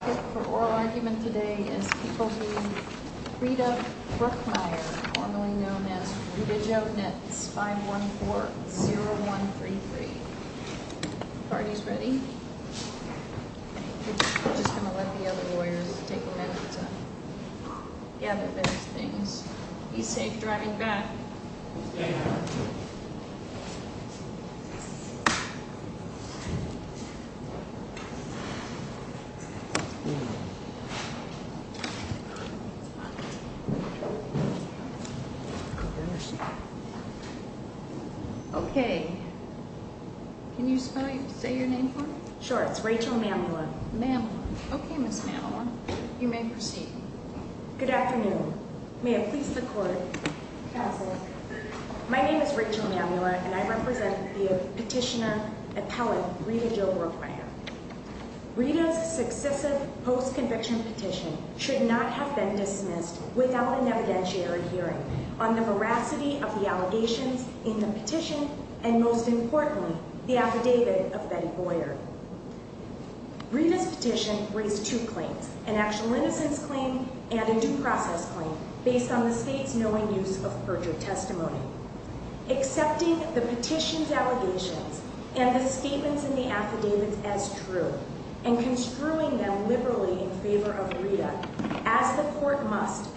The topic for oral argument today is people who Rita Brookmyer, formerly known as Rita Jovnitz, 514-0133. Party's ready? We're just going to let the other lawyers take a minute to gather their things. Be safe driving back. Okay, can you spell, say your name for me? Sure, it's Rachel Mamula. Mamula, okay Ms. Mamula, you may proceed. Good afternoon, may it please the court. Pass it. My name is Rachel Mamula and I represent the petitioner, appellate, Rita Jo Brookmyer. Rita's successive post-conviction petition should not have been dismissed without an evidentiary hearing on the veracity of the allegations in the petition and, most importantly, the affidavit of Betty Boyer. Rita's petition raised two claims, an actual innocence claim and a due process claim based on the state's knowing use of perjured testimony. Accepting the petition's allegations and the statements in the affidavits as true and construing them liberally in favor of Rita, as the court must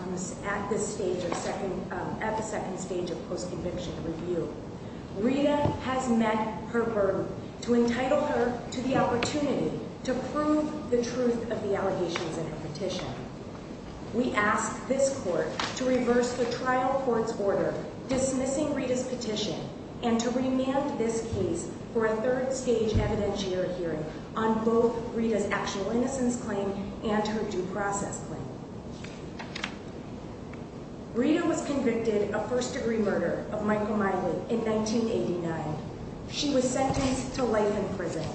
at this stage, at the second stage of post-conviction review, Rita has met her burden to entitle her to the opportunity to prove the truth of the allegations in her petition. We ask this court to reverse the trial court's order dismissing Rita's petition and to remand this case for a third stage evidentiary hearing on both Rita's actual innocence claim and her due process claim. Rita was convicted of first degree murder of Michael Miley in 1989. She was sentenced to life in prison.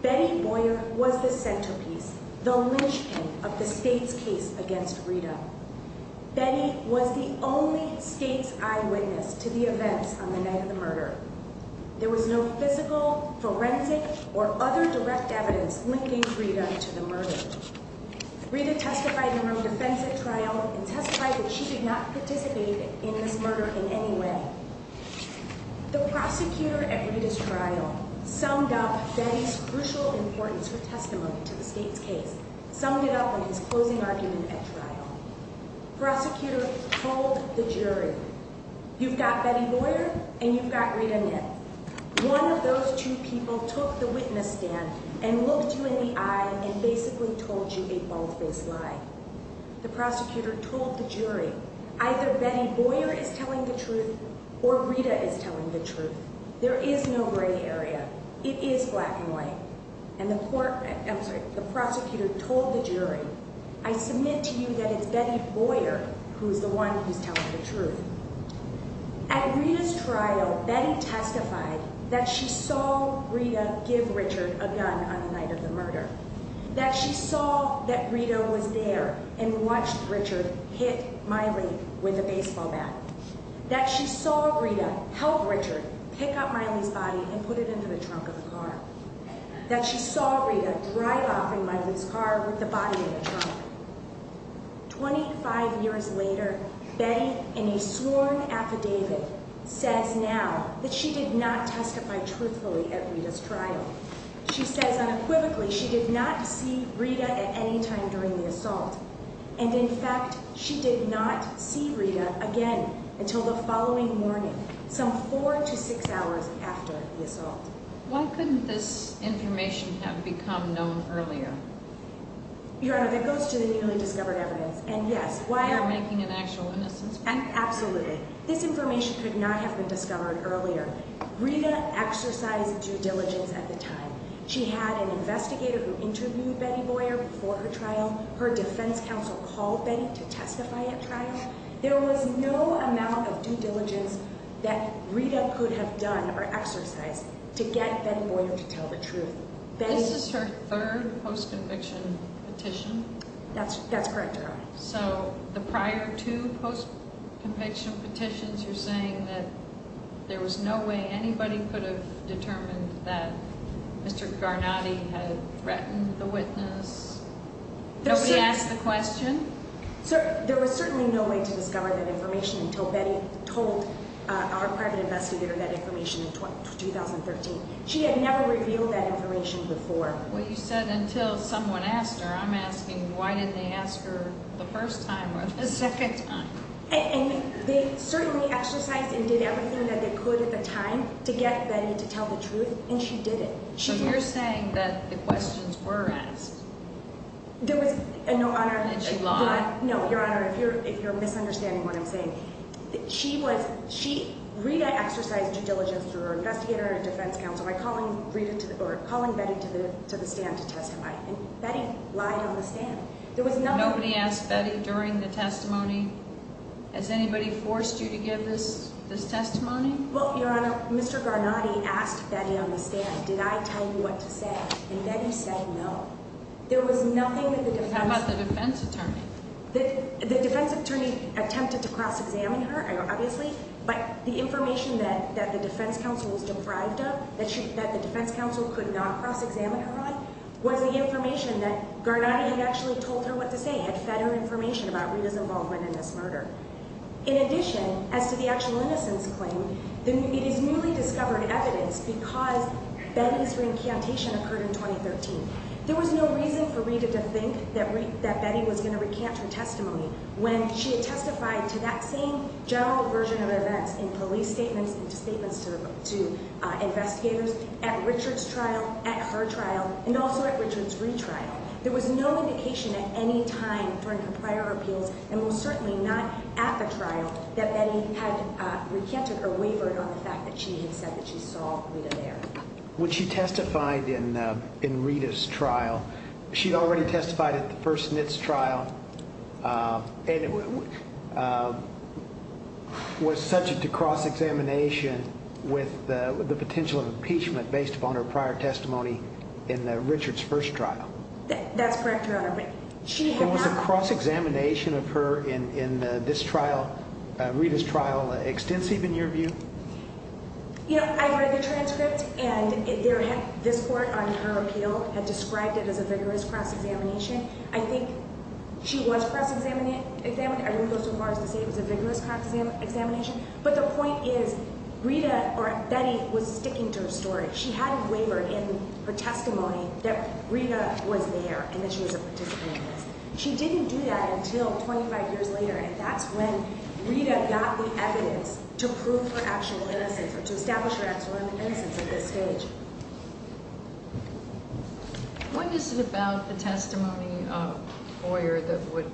Betty Boyer was the centerpiece, the linchpin of the state's case against Rita. Betty was the only state's eyewitness to the events on the night of the murder. There was no physical, forensic, or other direct evidence linking Rita to the murder. Rita testified in her own defense at trial and testified that she did not participate in this murder in any way. The prosecutor at Rita's trial summed up Betty's crucial importance for testimony to the state's case, summed it up in his closing argument at trial. Prosecutor told the jury, you've got Betty Boyer and you've got Rita Nith. One of those two people took the witness stand and looked you in the eye and basically told you a bold-faced lie. The prosecutor told the jury, either Betty Boyer is telling the truth or Rita is telling the truth. There is no gray area. It is black and white. And the court, I'm sorry, the prosecutor told the jury, I submit to you that it's Betty Boyer who's the one who's telling the truth. At Rita's trial, Betty testified that she saw Rita give Richard a gun on the night of the murder. That she saw that Rita was there and watched Richard hit Miley with a baseball bat. That she saw Rita help Richard pick up Miley's body and put it into the trunk of the car. That she saw Rita drive off in Miley's car with the body in the trunk. Twenty-five years later, Betty, in a sworn affidavit, says now that she did not testify truthfully at Rita's trial. She says unequivocally she did not see Rita at any time during the assault. And in fact, she did not see Rita again until the following morning, some four to six hours after the assault. Why couldn't this information have become known earlier? Your Honor, that goes to the newly discovered evidence, and yes. You're making an actual innocence claim? Absolutely. This information could not have been discovered earlier. Rita exercised due diligence at the time. She had an investigator who interviewed Betty Boyer before her trial. Her defense counsel called Betty to testify at trial. There was no amount of due diligence that Rita could have done or exercised to get Betty Boyer to tell the truth. This is her third post-conviction petition? That's correct, Your Honor. So the prior two post-conviction petitions, you're saying that there was no way anybody could have determined that Mr. Garnotti had threatened the witness? Nobody asked the question? There was certainly no way to discover that information until Betty told our private investigator that information in 2013. She had never revealed that information before. Well, you said until someone asked her. I'm asking why didn't they ask her the first time or the second time? And they certainly exercised and did everything that they could at the time to get Betty to tell the truth, and she didn't. So you're saying that the questions were asked? There was – no, Your Honor. And she lied? She was – Rita exercised due diligence through her investigator and defense counsel by calling Betty to the stand to testify, and Betty lied on the stand. Nobody asked Betty during the testimony? Has anybody forced you to give this testimony? Well, Your Honor, Mr. Garnotti asked Betty on the stand, did I tell you what to say, and Betty said no. There was nothing that the defense – How about the defense attorney? The defense attorney attempted to cross-examine her, obviously, but the information that the defense counsel was deprived of, that the defense counsel could not cross-examine her on, was the information that Garnotti had actually told her what to say, had fed her information about Rita's involvement in this murder. In addition, as to the actual innocence claim, it is newly discovered evidence because Betty's reincantation occurred in 2013. There was no reason for Rita to think that Betty was going to recant her testimony when she had testified to that same general version of events in police statements and statements to investigators at Richard's trial, at her trial, and also at Richard's retrial. There was no indication at any time during her prior appeals, and most certainly not at the trial, that Betty had recanted or wavered on the fact that she had said that she saw Rita there. When she testified in Rita's trial, she had already testified at the first NHTSA trial and was subject to cross-examination with the potential of impeachment based upon her prior testimony in Richard's first trial. That's correct, Your Honor, but she had not – Was the cross-examination of her in this trial, Rita's trial, extensive in your view? You know, I read the transcript, and this court on her appeal had described it as a vigorous cross-examination. I think she was cross-examined. I wouldn't go so far as to say it was a vigorous cross-examination. But the point is, Rita or Betty was sticking to her story. She hadn't wavered in her testimony that Rita was there and that she was a participant in this. She didn't do that until 25 years later, and that's when Rita got the evidence to prove her actual innocence or to establish her actual innocence at this stage. What is it about the testimony of Boyer that would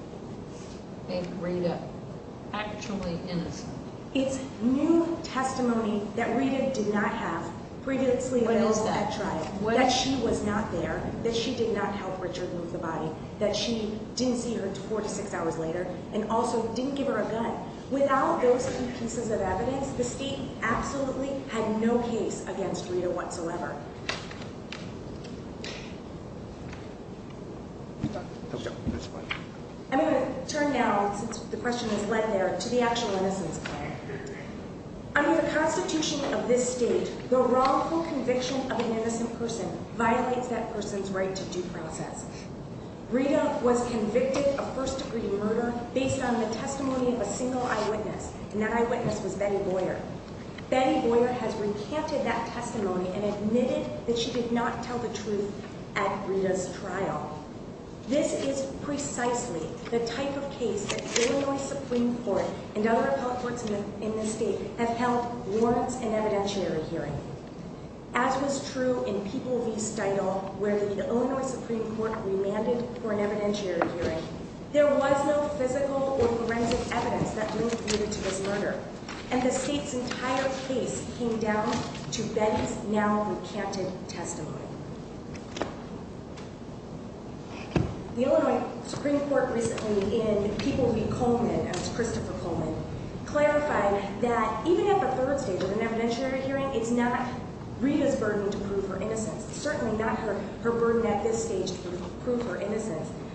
make Rita actually innocent? It's new testimony that Rita did not have previously at trial, that she was not there, that she did not help Richard move the body, that she didn't see her four to six hours later, and also didn't give her a gun. Without those two pieces of evidence, the State absolutely had no case against Rita whatsoever. I'm going to turn now, since the question has led there, to the actual innocence claim. Under the Constitution of this State, the wrongful conviction of an innocent person violates that person's right to due process. Rita was convicted of first-degree murder based on the testimony of a single eyewitness, and that eyewitness was Betty Boyer. Betty Boyer has recanted that testimony and admitted that she did not tell the truth at Rita's trial. This is precisely the type of case that the Illinois Supreme Court and other appellate courts in this State have held warrants in evidentiary hearing. As was true in People v. Steudle, where the Illinois Supreme Court remanded for an evidentiary hearing, there was no physical or forensic evidence that linked Rita to this murder, and the State's entire case came down to Betty's now-recanted testimony. The Illinois Supreme Court recently, in People v. Coleman, as Christopher Coleman, clarified that even at the third stage of an evidentiary hearing, it's not Rita's burden to prove her innocence.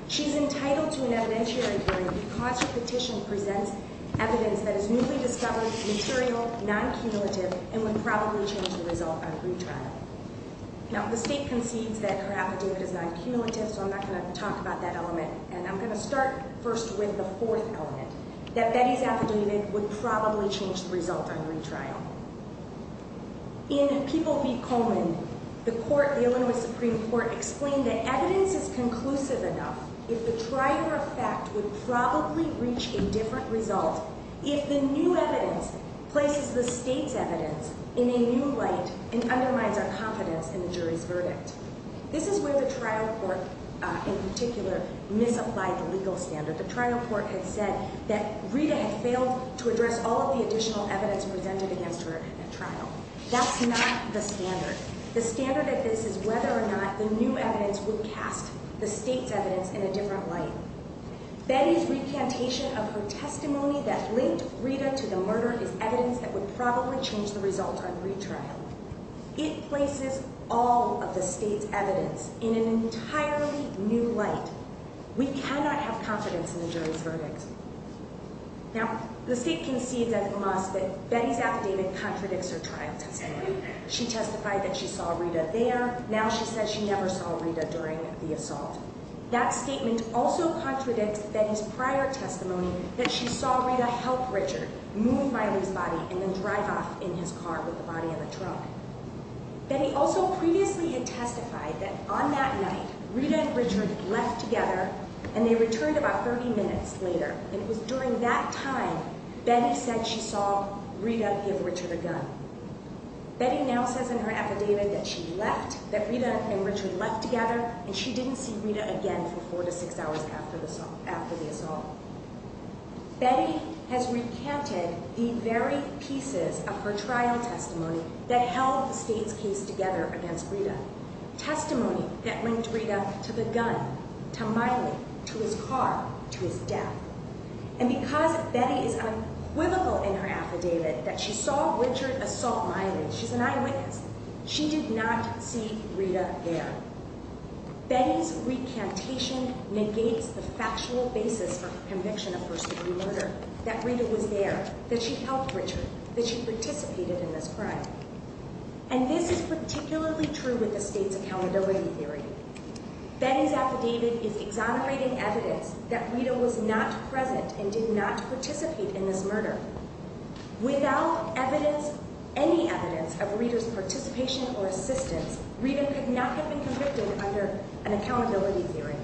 She's entitled to an evidentiary hearing because her petition presents evidence that is newly discovered, material, non-cumulative, and would probably change the result on retrial. Now, the State concedes that her affidavit is non-cumulative, so I'm not going to talk about that element, and I'm going to start first with the fourth element, that Betty's affidavit would probably change the result on retrial. In People v. Coleman, the Illinois Supreme Court explained that evidence is conclusive enough if the trial for a fact would probably reach a different result if the new evidence places the State's evidence in a new light and undermines our confidence in the jury's verdict. This is where the trial court, in particular, misapplied the legal standard. The trial court had said that Rita had failed to address all of the additional evidence presented against her at trial. That's not the standard. The standard of this is whether or not the new evidence would cast the State's evidence in a different light. Betty's recantation of her testimony that linked Rita to the murder is evidence that would probably change the result on retrial. It places all of the State's evidence in an entirely new light. We cannot have confidence in the jury's verdict. Now, the State concedes, as it must, that Betty's affidavit contradicts her trial testimony. She testified that she saw Rita there. Now she says she never saw Rita during the assault. That statement also contradicts Betty's prior testimony that she saw Rita help Richard move Miley's body and then drive off in his car with the body of a truck. Betty also previously had testified that on that night, Rita and Richard left together, and they returned about 30 minutes later. And it was during that time Betty said she saw Rita give Richard a gun. Betty now says in her affidavit that she left, that Rita and Richard left together, and she didn't see Rita again for four to six hours after the assault. Betty has recanted the very pieces of her trial testimony that held the State's case together against Rita, testimony that linked Rita to the gun, to Miley, to his car, to his death. And because Betty is unquivocal in her affidavit that she saw Richard assault Miley, she's an eyewitness, she did not see Rita there. Betty's recantation negates the factual basis for conviction of first degree murder, that Rita was there, that she helped Richard, that she participated in this crime. And this is particularly true with the State's accountability theory. Betty's affidavit is exonerating evidence that Rita was not present and did not participate in this murder. Without evidence, any evidence, of Rita's participation or assistance, Rita could not have been convicted under an accountability theory.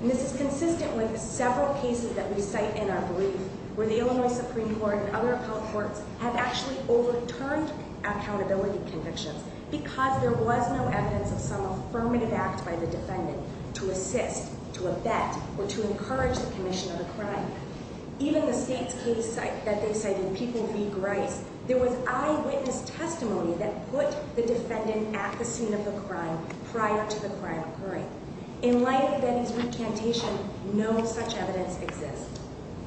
And this is consistent with several cases that we cite in our brief, where the Illinois Supreme Court and other courts have actually overturned accountability convictions because there was no evidence of some affirmative act by the defendant to assist, to abet, or to encourage the commission of the crime. Even the State's case that they cited, People v. Grice, there was eyewitness testimony that put the defendant at the scene of the crime prior to the crime occurring. In light of Betty's recantation, no such evidence exists.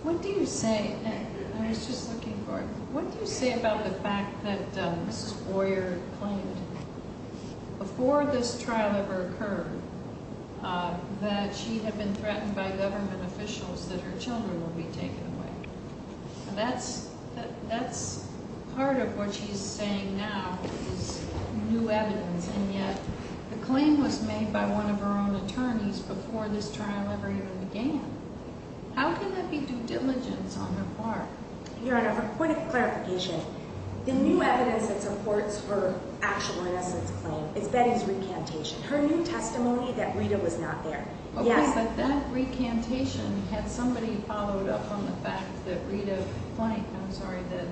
What do you say, and I was just looking for it, what do you say about the fact that Mrs. Boyer claimed, before this trial ever occurred, that she had been threatened by government officials that her children would be taken away? That's part of what she's saying now, is new evidence, and yet the claim was made by one of her own attorneys before this trial ever even began. How can that be due diligence on her part? Your Honor, for point of clarification, the new evidence that supports her actual innocence claim is Betty's recantation. Her new testimony that Rita was not there? Yes. That recantation had somebody followed up on the fact that Rita, I'm sorry, that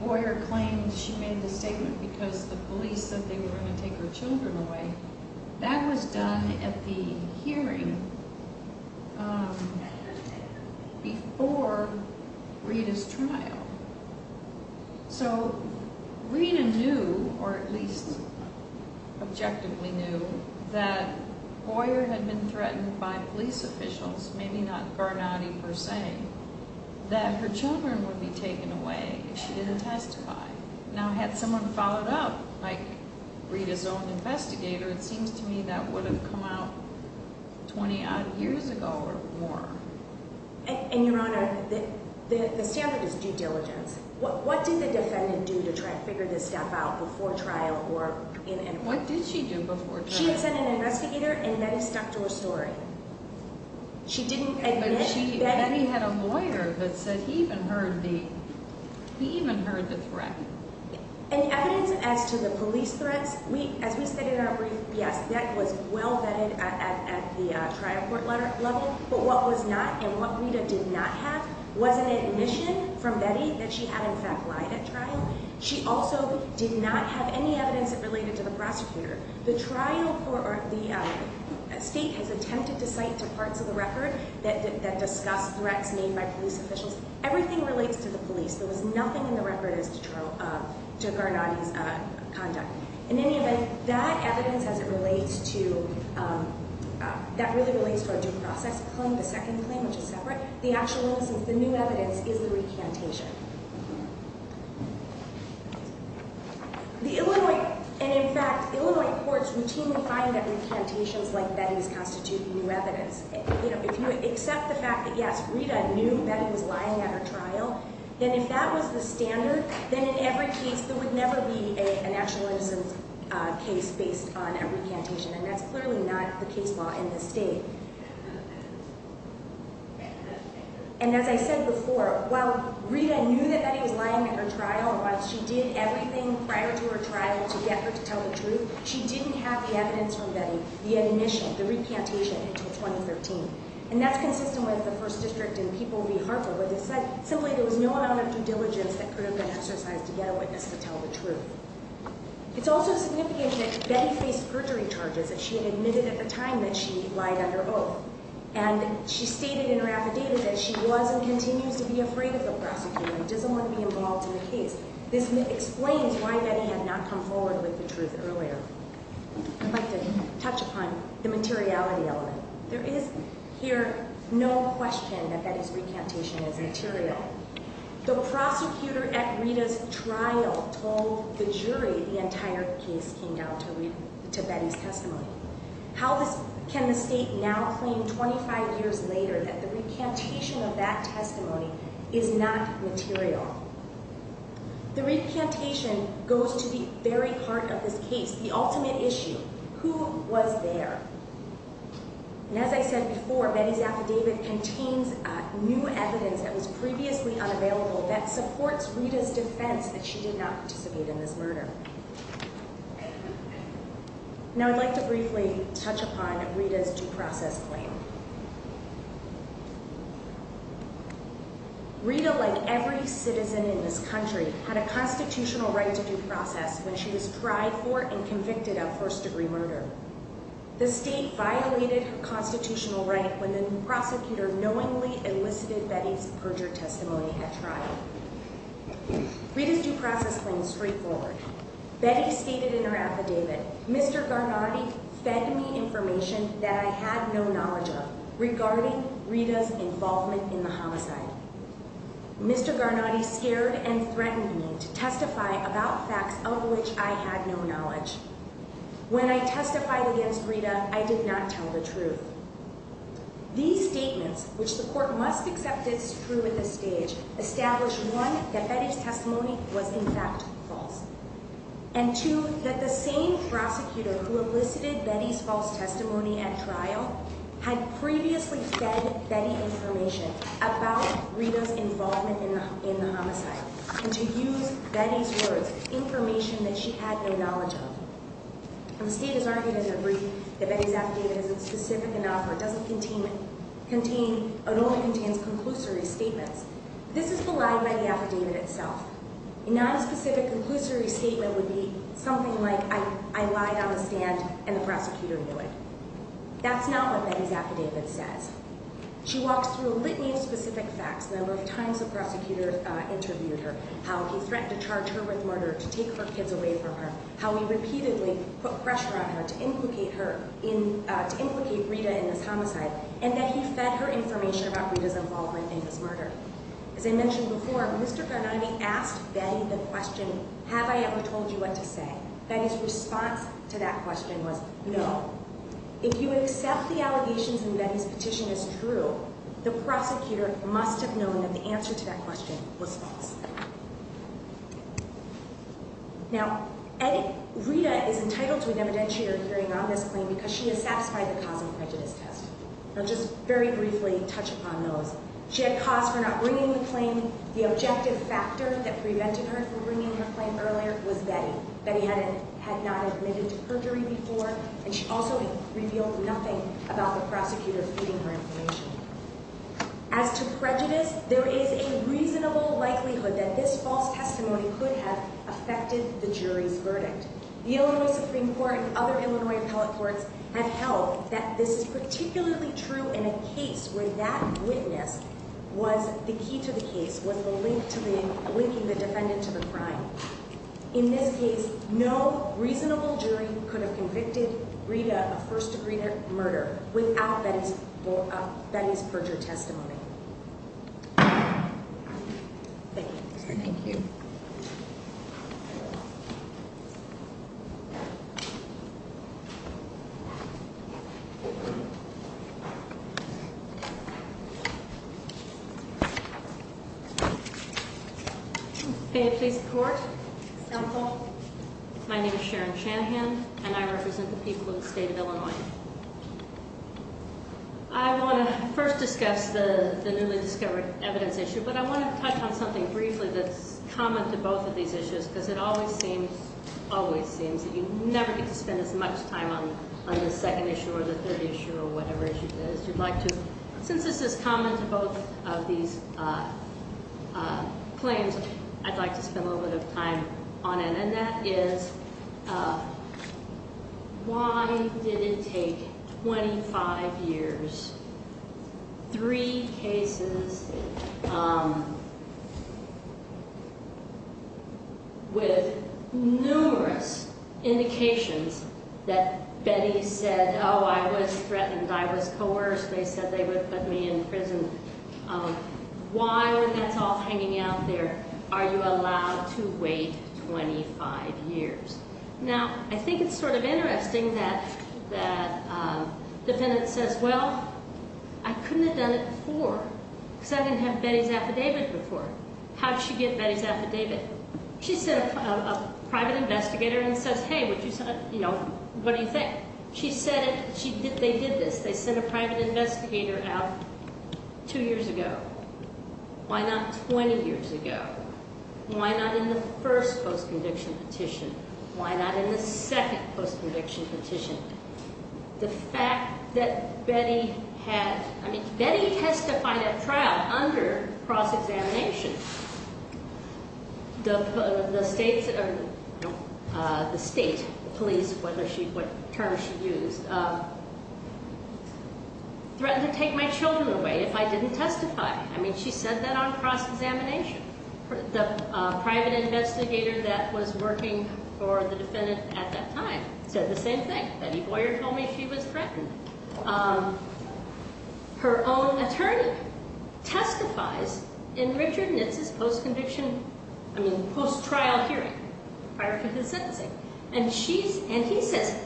Boyer claimed she made the statement because the police said they were going to take her children away. So Rita knew, or at least objectively knew, that Boyer had been threatened by police officials, maybe not Garnotti per se, that her children would be taken away if she didn't testify. Now had someone followed up, like Rita's own investigator, it seems to me that would have come out 20-odd years ago or more. And, Your Honor, the standard is due diligence. What did the defendant do to try to figure this stuff out before trial or in court? What did she do before trial? She sent an investigator and Betty stuck to her story. She didn't admit Betty. Betty had a lawyer that said he even heard the threat. And the evidence as to the police threats, as we said in our brief, yes, that was well vetted at the trial court level, but what was not and what Rita did not have was an admission from Betty that she had, in fact, lied at trial. She also did not have any evidence that related to the prosecutor. The state has attempted to cite parts of the record that discuss threats made by police officials. Everything relates to the police. There was nothing in the record as to Garnotti's conduct. In any event, that evidence as it relates to, that really relates to our due process claim, the second claim, which is separate, the actual innocence, the new evidence is the recantation. The Illinois, and in fact, Illinois courts routinely find that recantations like Betty's constitute new evidence. You know, if you accept the fact that, yes, Rita knew Betty was lying at her trial, then if that was the standard, then in every case there would never be an actual innocence case based on a recantation, and that's clearly not the case law in this state. And as I said before, while Rita knew that Betty was lying at her trial, while she did everything prior to her trial to get her to tell the truth, she didn't have the evidence from Betty, the admission, the recantation, until 2013. And that's consistent with the First District and People v. Harper where they said simply there was no amount of due diligence that could have been exercised to get a witness to tell the truth. It's also significant that Betty faced perjury charges that she had admitted at the time that she lied under oath. And she stated in her affidavit that she was and continues to be afraid of the prosecutor and doesn't want to be involved in the case. This explains why Betty had not come forward with the truth earlier. I'd like to touch upon the materiality element. There is here no question that Betty's recantation is material. The prosecutor at Rita's trial told the jury the entire case came down to Betty's testimony. How can the state now claim 25 years later that the recantation of that testimony is not material? The recantation goes to the very heart of this case, the ultimate issue. Who was there? And as I said before, Betty's affidavit contains new evidence that was previously unavailable that supports Rita's defense that she did not participate in this murder. Now I'd like to briefly touch upon Rita's due process claim. Rita, like every citizen in this country, had a constitutional right to due process when she was tried for and convicted of first-degree murder. The state violated her constitutional right when the prosecutor knowingly elicited Betty's perjured testimony at trial. Rita's due process claim is straightforward. Betty stated in her affidavit, Mr. Garnotti fed me information that I had no knowledge of regarding Rita's involvement in the homicide. Mr. Garnotti scared and threatened me to testify about facts of which I had no knowledge. When I testified against Rita, I did not tell the truth. These statements, which the court must accept as true at this stage, establish one, that Betty's testimony was in fact false. And two, that the same prosecutor who elicited Betty's false testimony at trial had previously fed Betty information about Rita's involvement in the homicide and to use Betty's words, information that she had no knowledge of. The state has argued in a brief that Betty's affidavit isn't specific enough or doesn't contain, it only contains conclusory statements. This is belied by the affidavit itself. A nonspecific conclusory statement would be something like, I lied on the stand and the prosecutor knew it. That's not what Betty's affidavit says. She walks through a litany of specific facts, the number of times the prosecutor interviewed her, how he threatened to charge her with murder, to take her kids away from her, how he repeatedly put pressure on her to implicate Rita in this homicide, and that he fed her information about Rita's involvement in this murder. As I mentioned before, Mr. Carnati asked Betty the question, have I ever told you what to say? Betty's response to that question was, no. If you accept the allegations that Betty's petition is true, the prosecutor must have known that the answer to that question was false. Now, Rita is entitled to an evidentiary hearing on this claim because she has satisfied the cause and prejudice test. I'll just very briefly touch upon those. She had cause for not bringing the claim. The objective factor that prevented her from bringing her claim earlier was Betty. Betty had not admitted to perjury before, and she also revealed nothing about the prosecutor feeding her information. As to prejudice, there is a reasonable likelihood that this false testimony could have affected the jury's verdict. The Illinois Supreme Court and other Illinois appellate courts have held that this is particularly true in a case where that witness was the key to the case, was the link to the, linking the defendant to the crime. In this case, no reasonable jury could have convicted Rita of first degree murder without Betty's perjury testimony. Thank you. Thank you. May I please report? My name is Sharon Shanahan, and I represent the people of the state of Illinois. I want to first discuss the newly discovered evidence issue, but I want to touch on something briefly that's common to both of these issues because it always seems, always seems that you never get to spend as much time on the second issue or the third issue or whatever issue it is you'd like to. Since this is common to both of these claims, I'd like to spend a little bit of time on it, and that is why did it take 25 years, three cases with numerous indications that Betty said, oh, I was threatened, I was coerced, they said they would put me in prison. Why, when that's all hanging out there, are you allowed to wait 25 years? Now, I think it's sort of interesting that the defendant says, well, I couldn't have done it before, because I didn't have Betty's affidavit before. How did she get Betty's affidavit? She sent a private investigator and says, hey, what do you think? She said it, they did this, they sent a private investigator out two years ago. Why not 20 years ago? Why not in the first post-conviction petition? Why not in the second post-conviction petition? The fact that Betty had, I mean, Betty testified at trial under cross-examination. The state police, what terms she used, threatened to take my children away if I didn't testify. I mean, she said that on cross-examination. The private investigator that was working for the defendant at that time said the same thing. Betty Boyer told me she was threatened. Her own attorney testifies in Richard Nitz's post-conviction, I mean, post-trial hearing prior to the sentencing. And she's, and he says,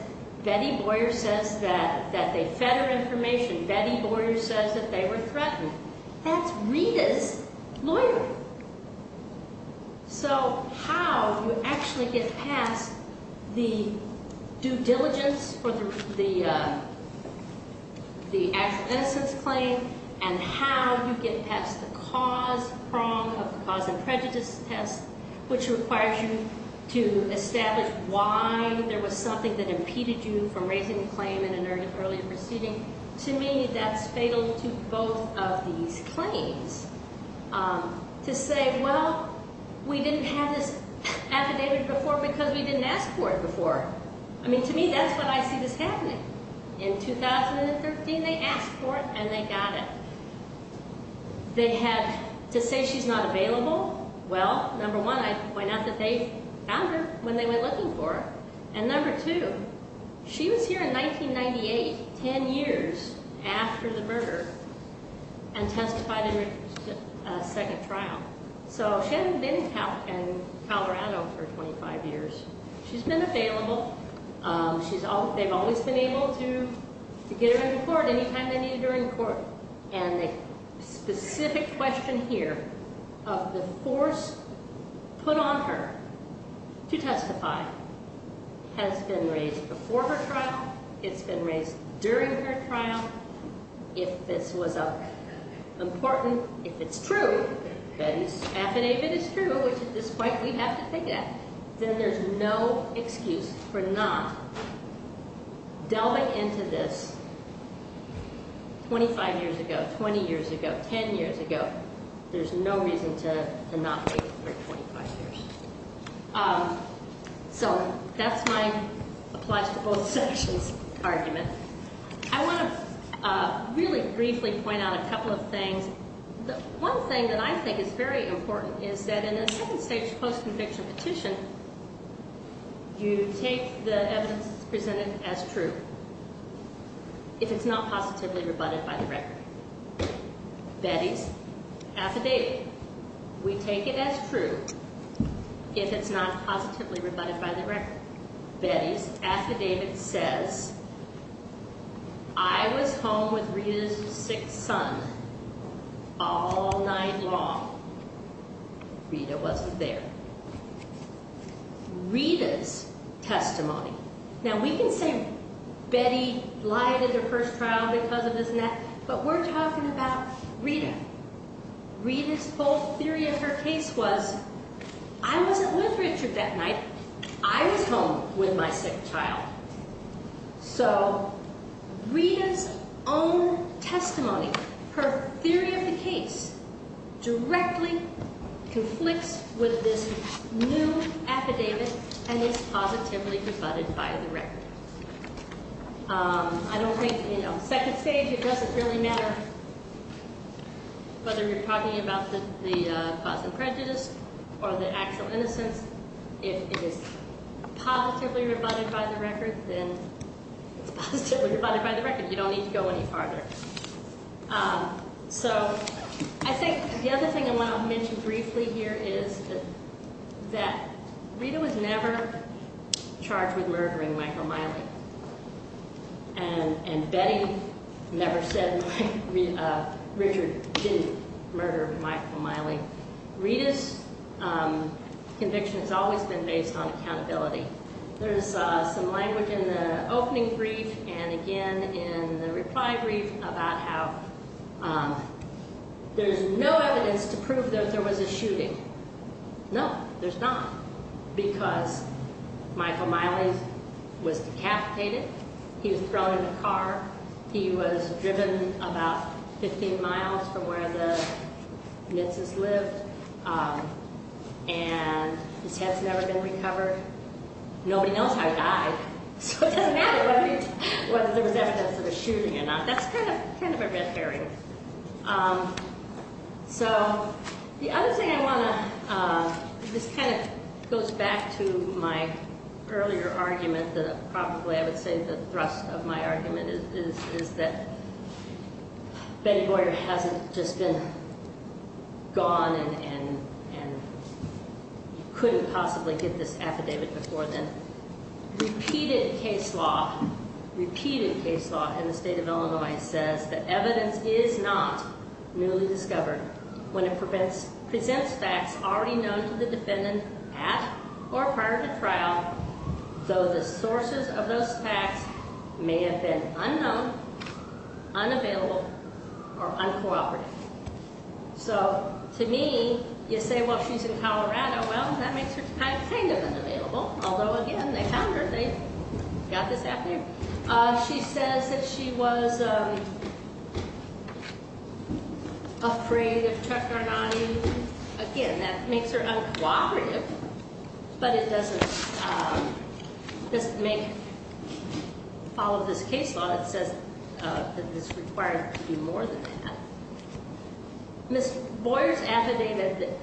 Betty Boyer says that they fed her information. Betty Boyer says that they were threatened. That's Rita's lawyer. So how you actually get past the due diligence for the acts of innocence claim and how you get past the cause prong of the cause and prejudice test, which requires you to establish why there was something that impeded you from raising the claim in an early proceeding, to me, that's fatal to both of these claims. To say, well, we didn't have this affidavit before because we didn't ask for it before. I mean, to me, that's when I see this happening. In 2013, they asked for it, and they got it. They had to say she's not available. Well, number one, why not that they found her when they were looking for her? And number two, she was here in 1998, 10 years after the murder, and testified in her second trial. So she hadn't been in Colorado for 25 years. She's been available. They've always been able to get her into court anytime they needed her in court. And the specific question here of the force put on her to testify has been raised before her trial. It's been raised during her trial. If this was important, if it's true, Betty's affidavit is true, which at this point we have to take it, then there's no excuse for not delving into this 25 years ago, 20 years ago, 10 years ago. There's no reason to not wait for 25 years. So that's my applause to both sections argument. I want to really briefly point out a couple of things. One thing that I think is very important is that in a second-stage post-conviction petition, you take the evidence presented as true if it's not positively rebutted by the record. Betty's affidavit, we take it as true if it's not positively rebutted by the record. Betty's affidavit says, I was home with Rita's sick son all night long. Rita wasn't there. Rita's testimony, now we can say Betty lied in her first trial because of this and that, but we're talking about Rita. Rita's whole theory of her case was, I wasn't with Richard that night. I was home with my sick child. So Rita's own testimony, her theory of the case directly conflicts with this new affidavit and is positively rebutted by the record. I don't think, you know, second stage, it doesn't really matter whether you're talking about the cause of prejudice or the actual innocence. If it is positively rebutted by the record, then it's positively rebutted by the record. You don't need to go any farther. So I think the other thing I want to mention briefly here is that Rita was never charged with murdering Michael Miley. And Betty never said Richard didn't murder Michael Miley. Rita's conviction has always been based on accountability. There's some language in the opening brief and again in the reply brief about how there's No, there's not, because Michael Miley was decapitated. He was thrown in a car. He was driven about 15 miles from where the Nitzes lived. And his head's never been recovered. Nobody knows how he died, so it doesn't matter whether there was evidence of a shooting or not. That's kind of a red herring. So the other thing I want to, this kind of goes back to my earlier argument, probably I would say the thrust of my argument is that Betty Boyer hasn't just been gone and you couldn't possibly get this affidavit before then. Repeated case law in the state of Illinois says that evidence is not newly discovered when it presents facts already known to the defendant at or prior to trial, though the sources of those facts may have been unknown, unavailable, or uncooperative. So to me, you say, well, she's in Colorado. Well, that makes her kind of unavailable, although, again, they found her. They got this affidavit. She says that she was afraid of Chuck Arnotti. Again, that makes her uncooperative, but it doesn't make, follow this case law that says that it's required to be more than that. Ms. Boyer's affidavit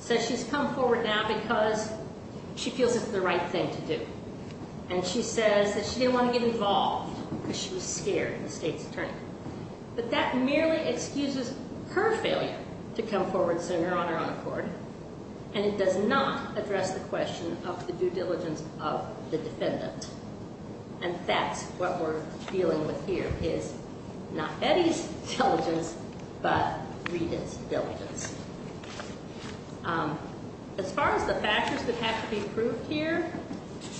says she's come forward now because she feels it's the right thing to do, and she says that she didn't want to get involved because she was scared, the state's attorney. But that merely excuses her failure to come forward sooner on her own accord, and it does not address the question of the due diligence of the defendant, and that's what we're dealing with here is not Betty's diligence, but Rita's diligence. As far as the factors that have to be proved here,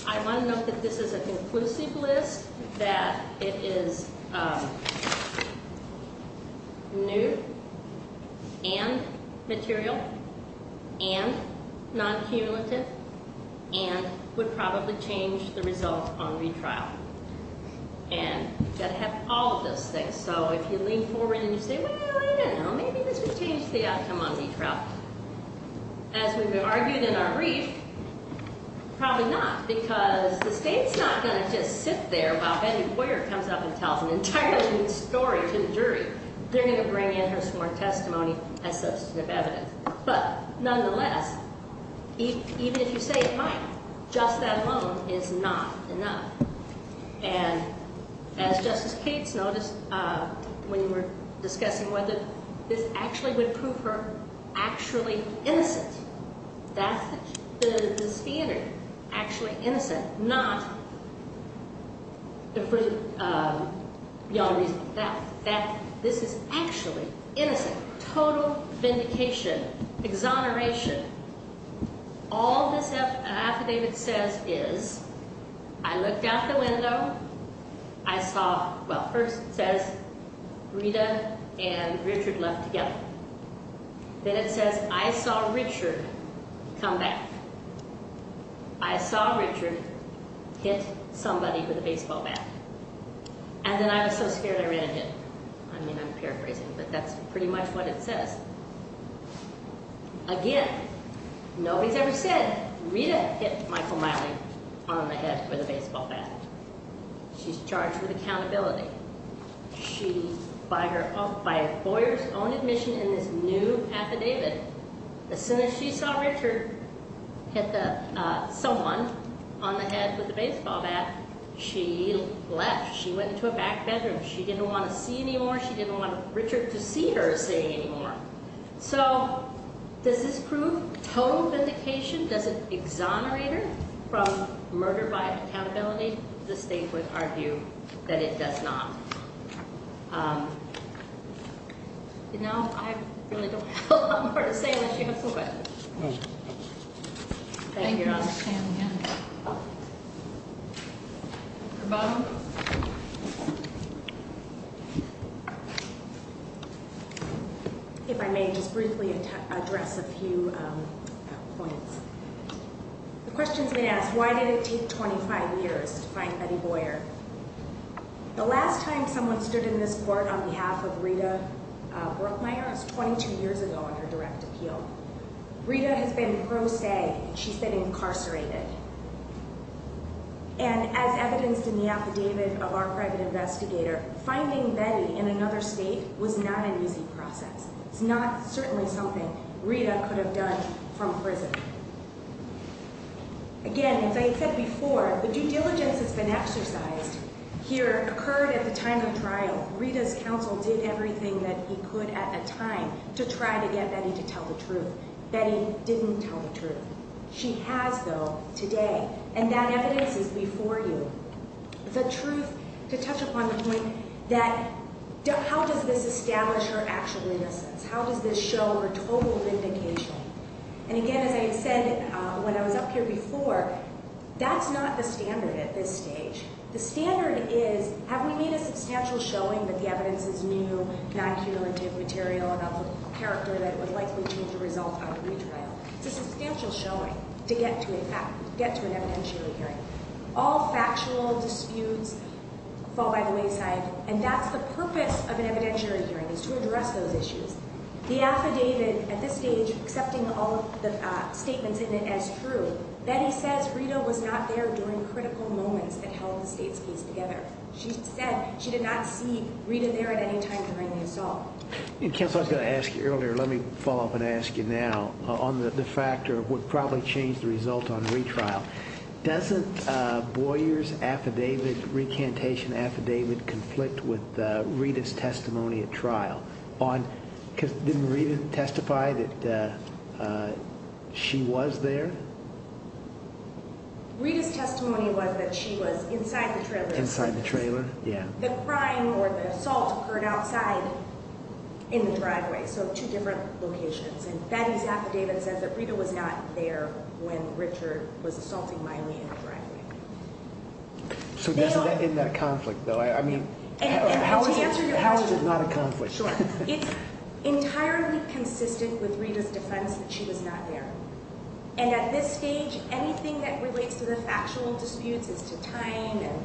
I want to note that this is a conclusive list, that it is new and material and non-cumulative and would probably change the result on retrial. And you've got to have all of those things. So if you lean forward and you say, well, you know, maybe this would change the outcome on retrial. As we've argued in our brief, probably not because the state's not going to just sit there while Betty Boyer comes up and tells an entirely new story to the jury. They're going to bring in her sworn testimony as substantive evidence. But nonetheless, even if you say it might, just that alone is not enough. And as Justice Cates noticed when we were discussing whether this actually would prove her actually innocent, that's the standard, actually innocent, not beyond reason. This is actually innocent, total vindication, exoneration. All this affidavit says is, I looked out the window, I saw, well, first it says Rita and Richard left together. Then it says, I saw Richard come back. I saw Richard hit somebody with a baseball bat. And then I was so scared I ran and hit him. I mean, I'm paraphrasing, but that's pretty much what it says. Again, nobody's ever said, Rita hit Michael Miley on the head with a baseball bat. She's charged with accountability. She, by Boyer's own admission in this new affidavit, as soon as she saw Richard hit someone on the head with a baseball bat, she left. She went into a back bedroom. She didn't want to see anymore. She didn't want Richard to see her see anymore. So, does this prove total vindication? Does it exonerate her from murder by accountability? I think the state would argue that it does not. Now, I really don't have a lot more to say unless you have some questions. Thank you, Your Honor. Thank you, Ms. Sandlin. If I may just briefly address a few points. The question's been asked, why did it take 25 years to find Betty Boyer? The last time someone stood in this court on behalf of Rita Brookmeyer was 22 years ago on her direct appeal. Rita has been pro se. She's been incarcerated. And as evidenced in the affidavit of our private investigator, finding Betty in another state was not an easy process. It's not certainly something Rita could have done from prison. Again, as I said before, the due diligence that's been exercised here occurred at the time of trial. Rita's counsel did everything that he could at the time to try to get Betty to tell the truth. Betty didn't tell the truth. She has, though, today. And that evidence is before you. The truth, to touch upon the point that, how does this establish her actual innocence? How does this show her total vindication? And again, as I said when I was up here before, that's not the standard at this stage. The standard is, have we made a substantial showing that the evidence is new, non-cumulative material about the character that would likely change the result of a retrial? It's a substantial showing to get to an evidentiary hearing. All factual disputes fall by the wayside. And that's the purpose of an evidentiary hearing, is to address those issues. The affidavit at this stage, accepting all of the statements in it as true, Betty says Rita was not there during critical moments that held the state's case together. She said she did not see Rita there at any time during the assault. Counsel, I was going to ask you earlier, let me follow up and ask you now, on the factor of what probably changed the result on retrial. Doesn't Boyer's affidavit, recantation affidavit, conflict with Rita's testimony at trial? Didn't Rita testify that she was there? Rita's testimony was that she was inside the trailer. Inside the trailer, yeah. The crime or the assault occurred outside in the driveway, so two different locations. And Betty's affidavit says that Rita was not there when Richard was assaulting Miley in the driveway. So in that conflict, though, I mean, how is it not a conflict? It's entirely consistent with Rita's defense that she was not there. And at this stage, anything that relates to the factual disputes as to time and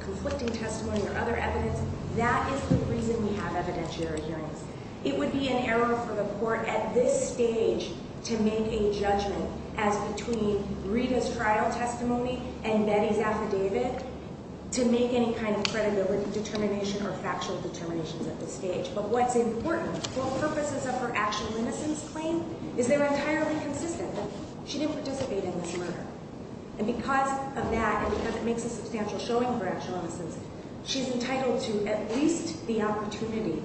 conflicting testimony or other evidence, that is the reason we have evidentiary hearings. It would be an error for the court at this stage to make a judgment as between Rita's trial testimony and Betty's affidavit to make any kind of credibility determination or factual determinations at this stage. But what's important, for purposes of her actual innocence claim, is they're entirely consistent that she didn't participate in this murder. And because of that, and because it makes a substantial showing for actual innocence, she's entitled to at least the opportunity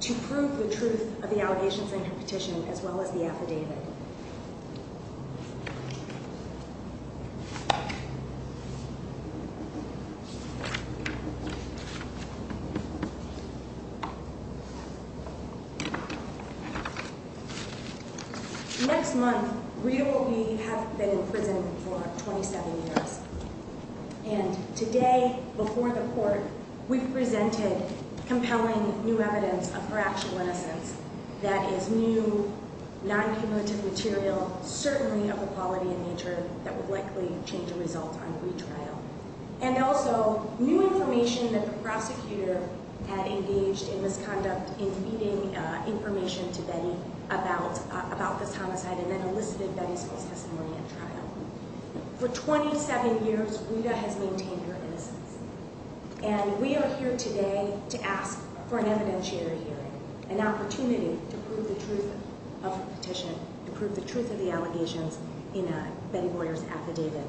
to prove the truth of the allegations in her petition as well as the affidavit. Next month, Rita will be in prison for 27 years. And today, before the court, we presented compelling new evidence of her actual innocence that is new, non-cumulative material, certainly of a quality and nature that would likely change the results on retrial. And also, new information that the prosecutor had engaged in misconduct in feeding information to Betty about this homicide and then elicited Betty's false testimony at trial. For 27 years, Rita has maintained her innocence. And we are here today to ask for an evidentiary hearing, an opportunity to prove the truth of her petition, to prove the truth of the allegations in Betty Boyer's affidavit.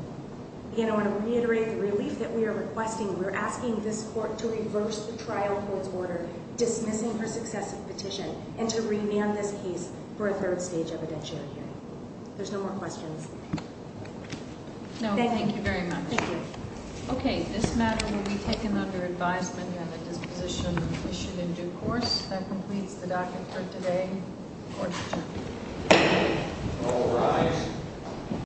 Again, I want to reiterate the relief that we are requesting. We're asking this court to reverse the trial court's order dismissing her successive petition and to remand this case for a third stage evidentiary hearing. There's no more questions. No, thank you very much. Thank you. Okay, this matter will be taken under advisement and a disposition issued in due course. That completes the docket for today. Court is adjourned. All rise.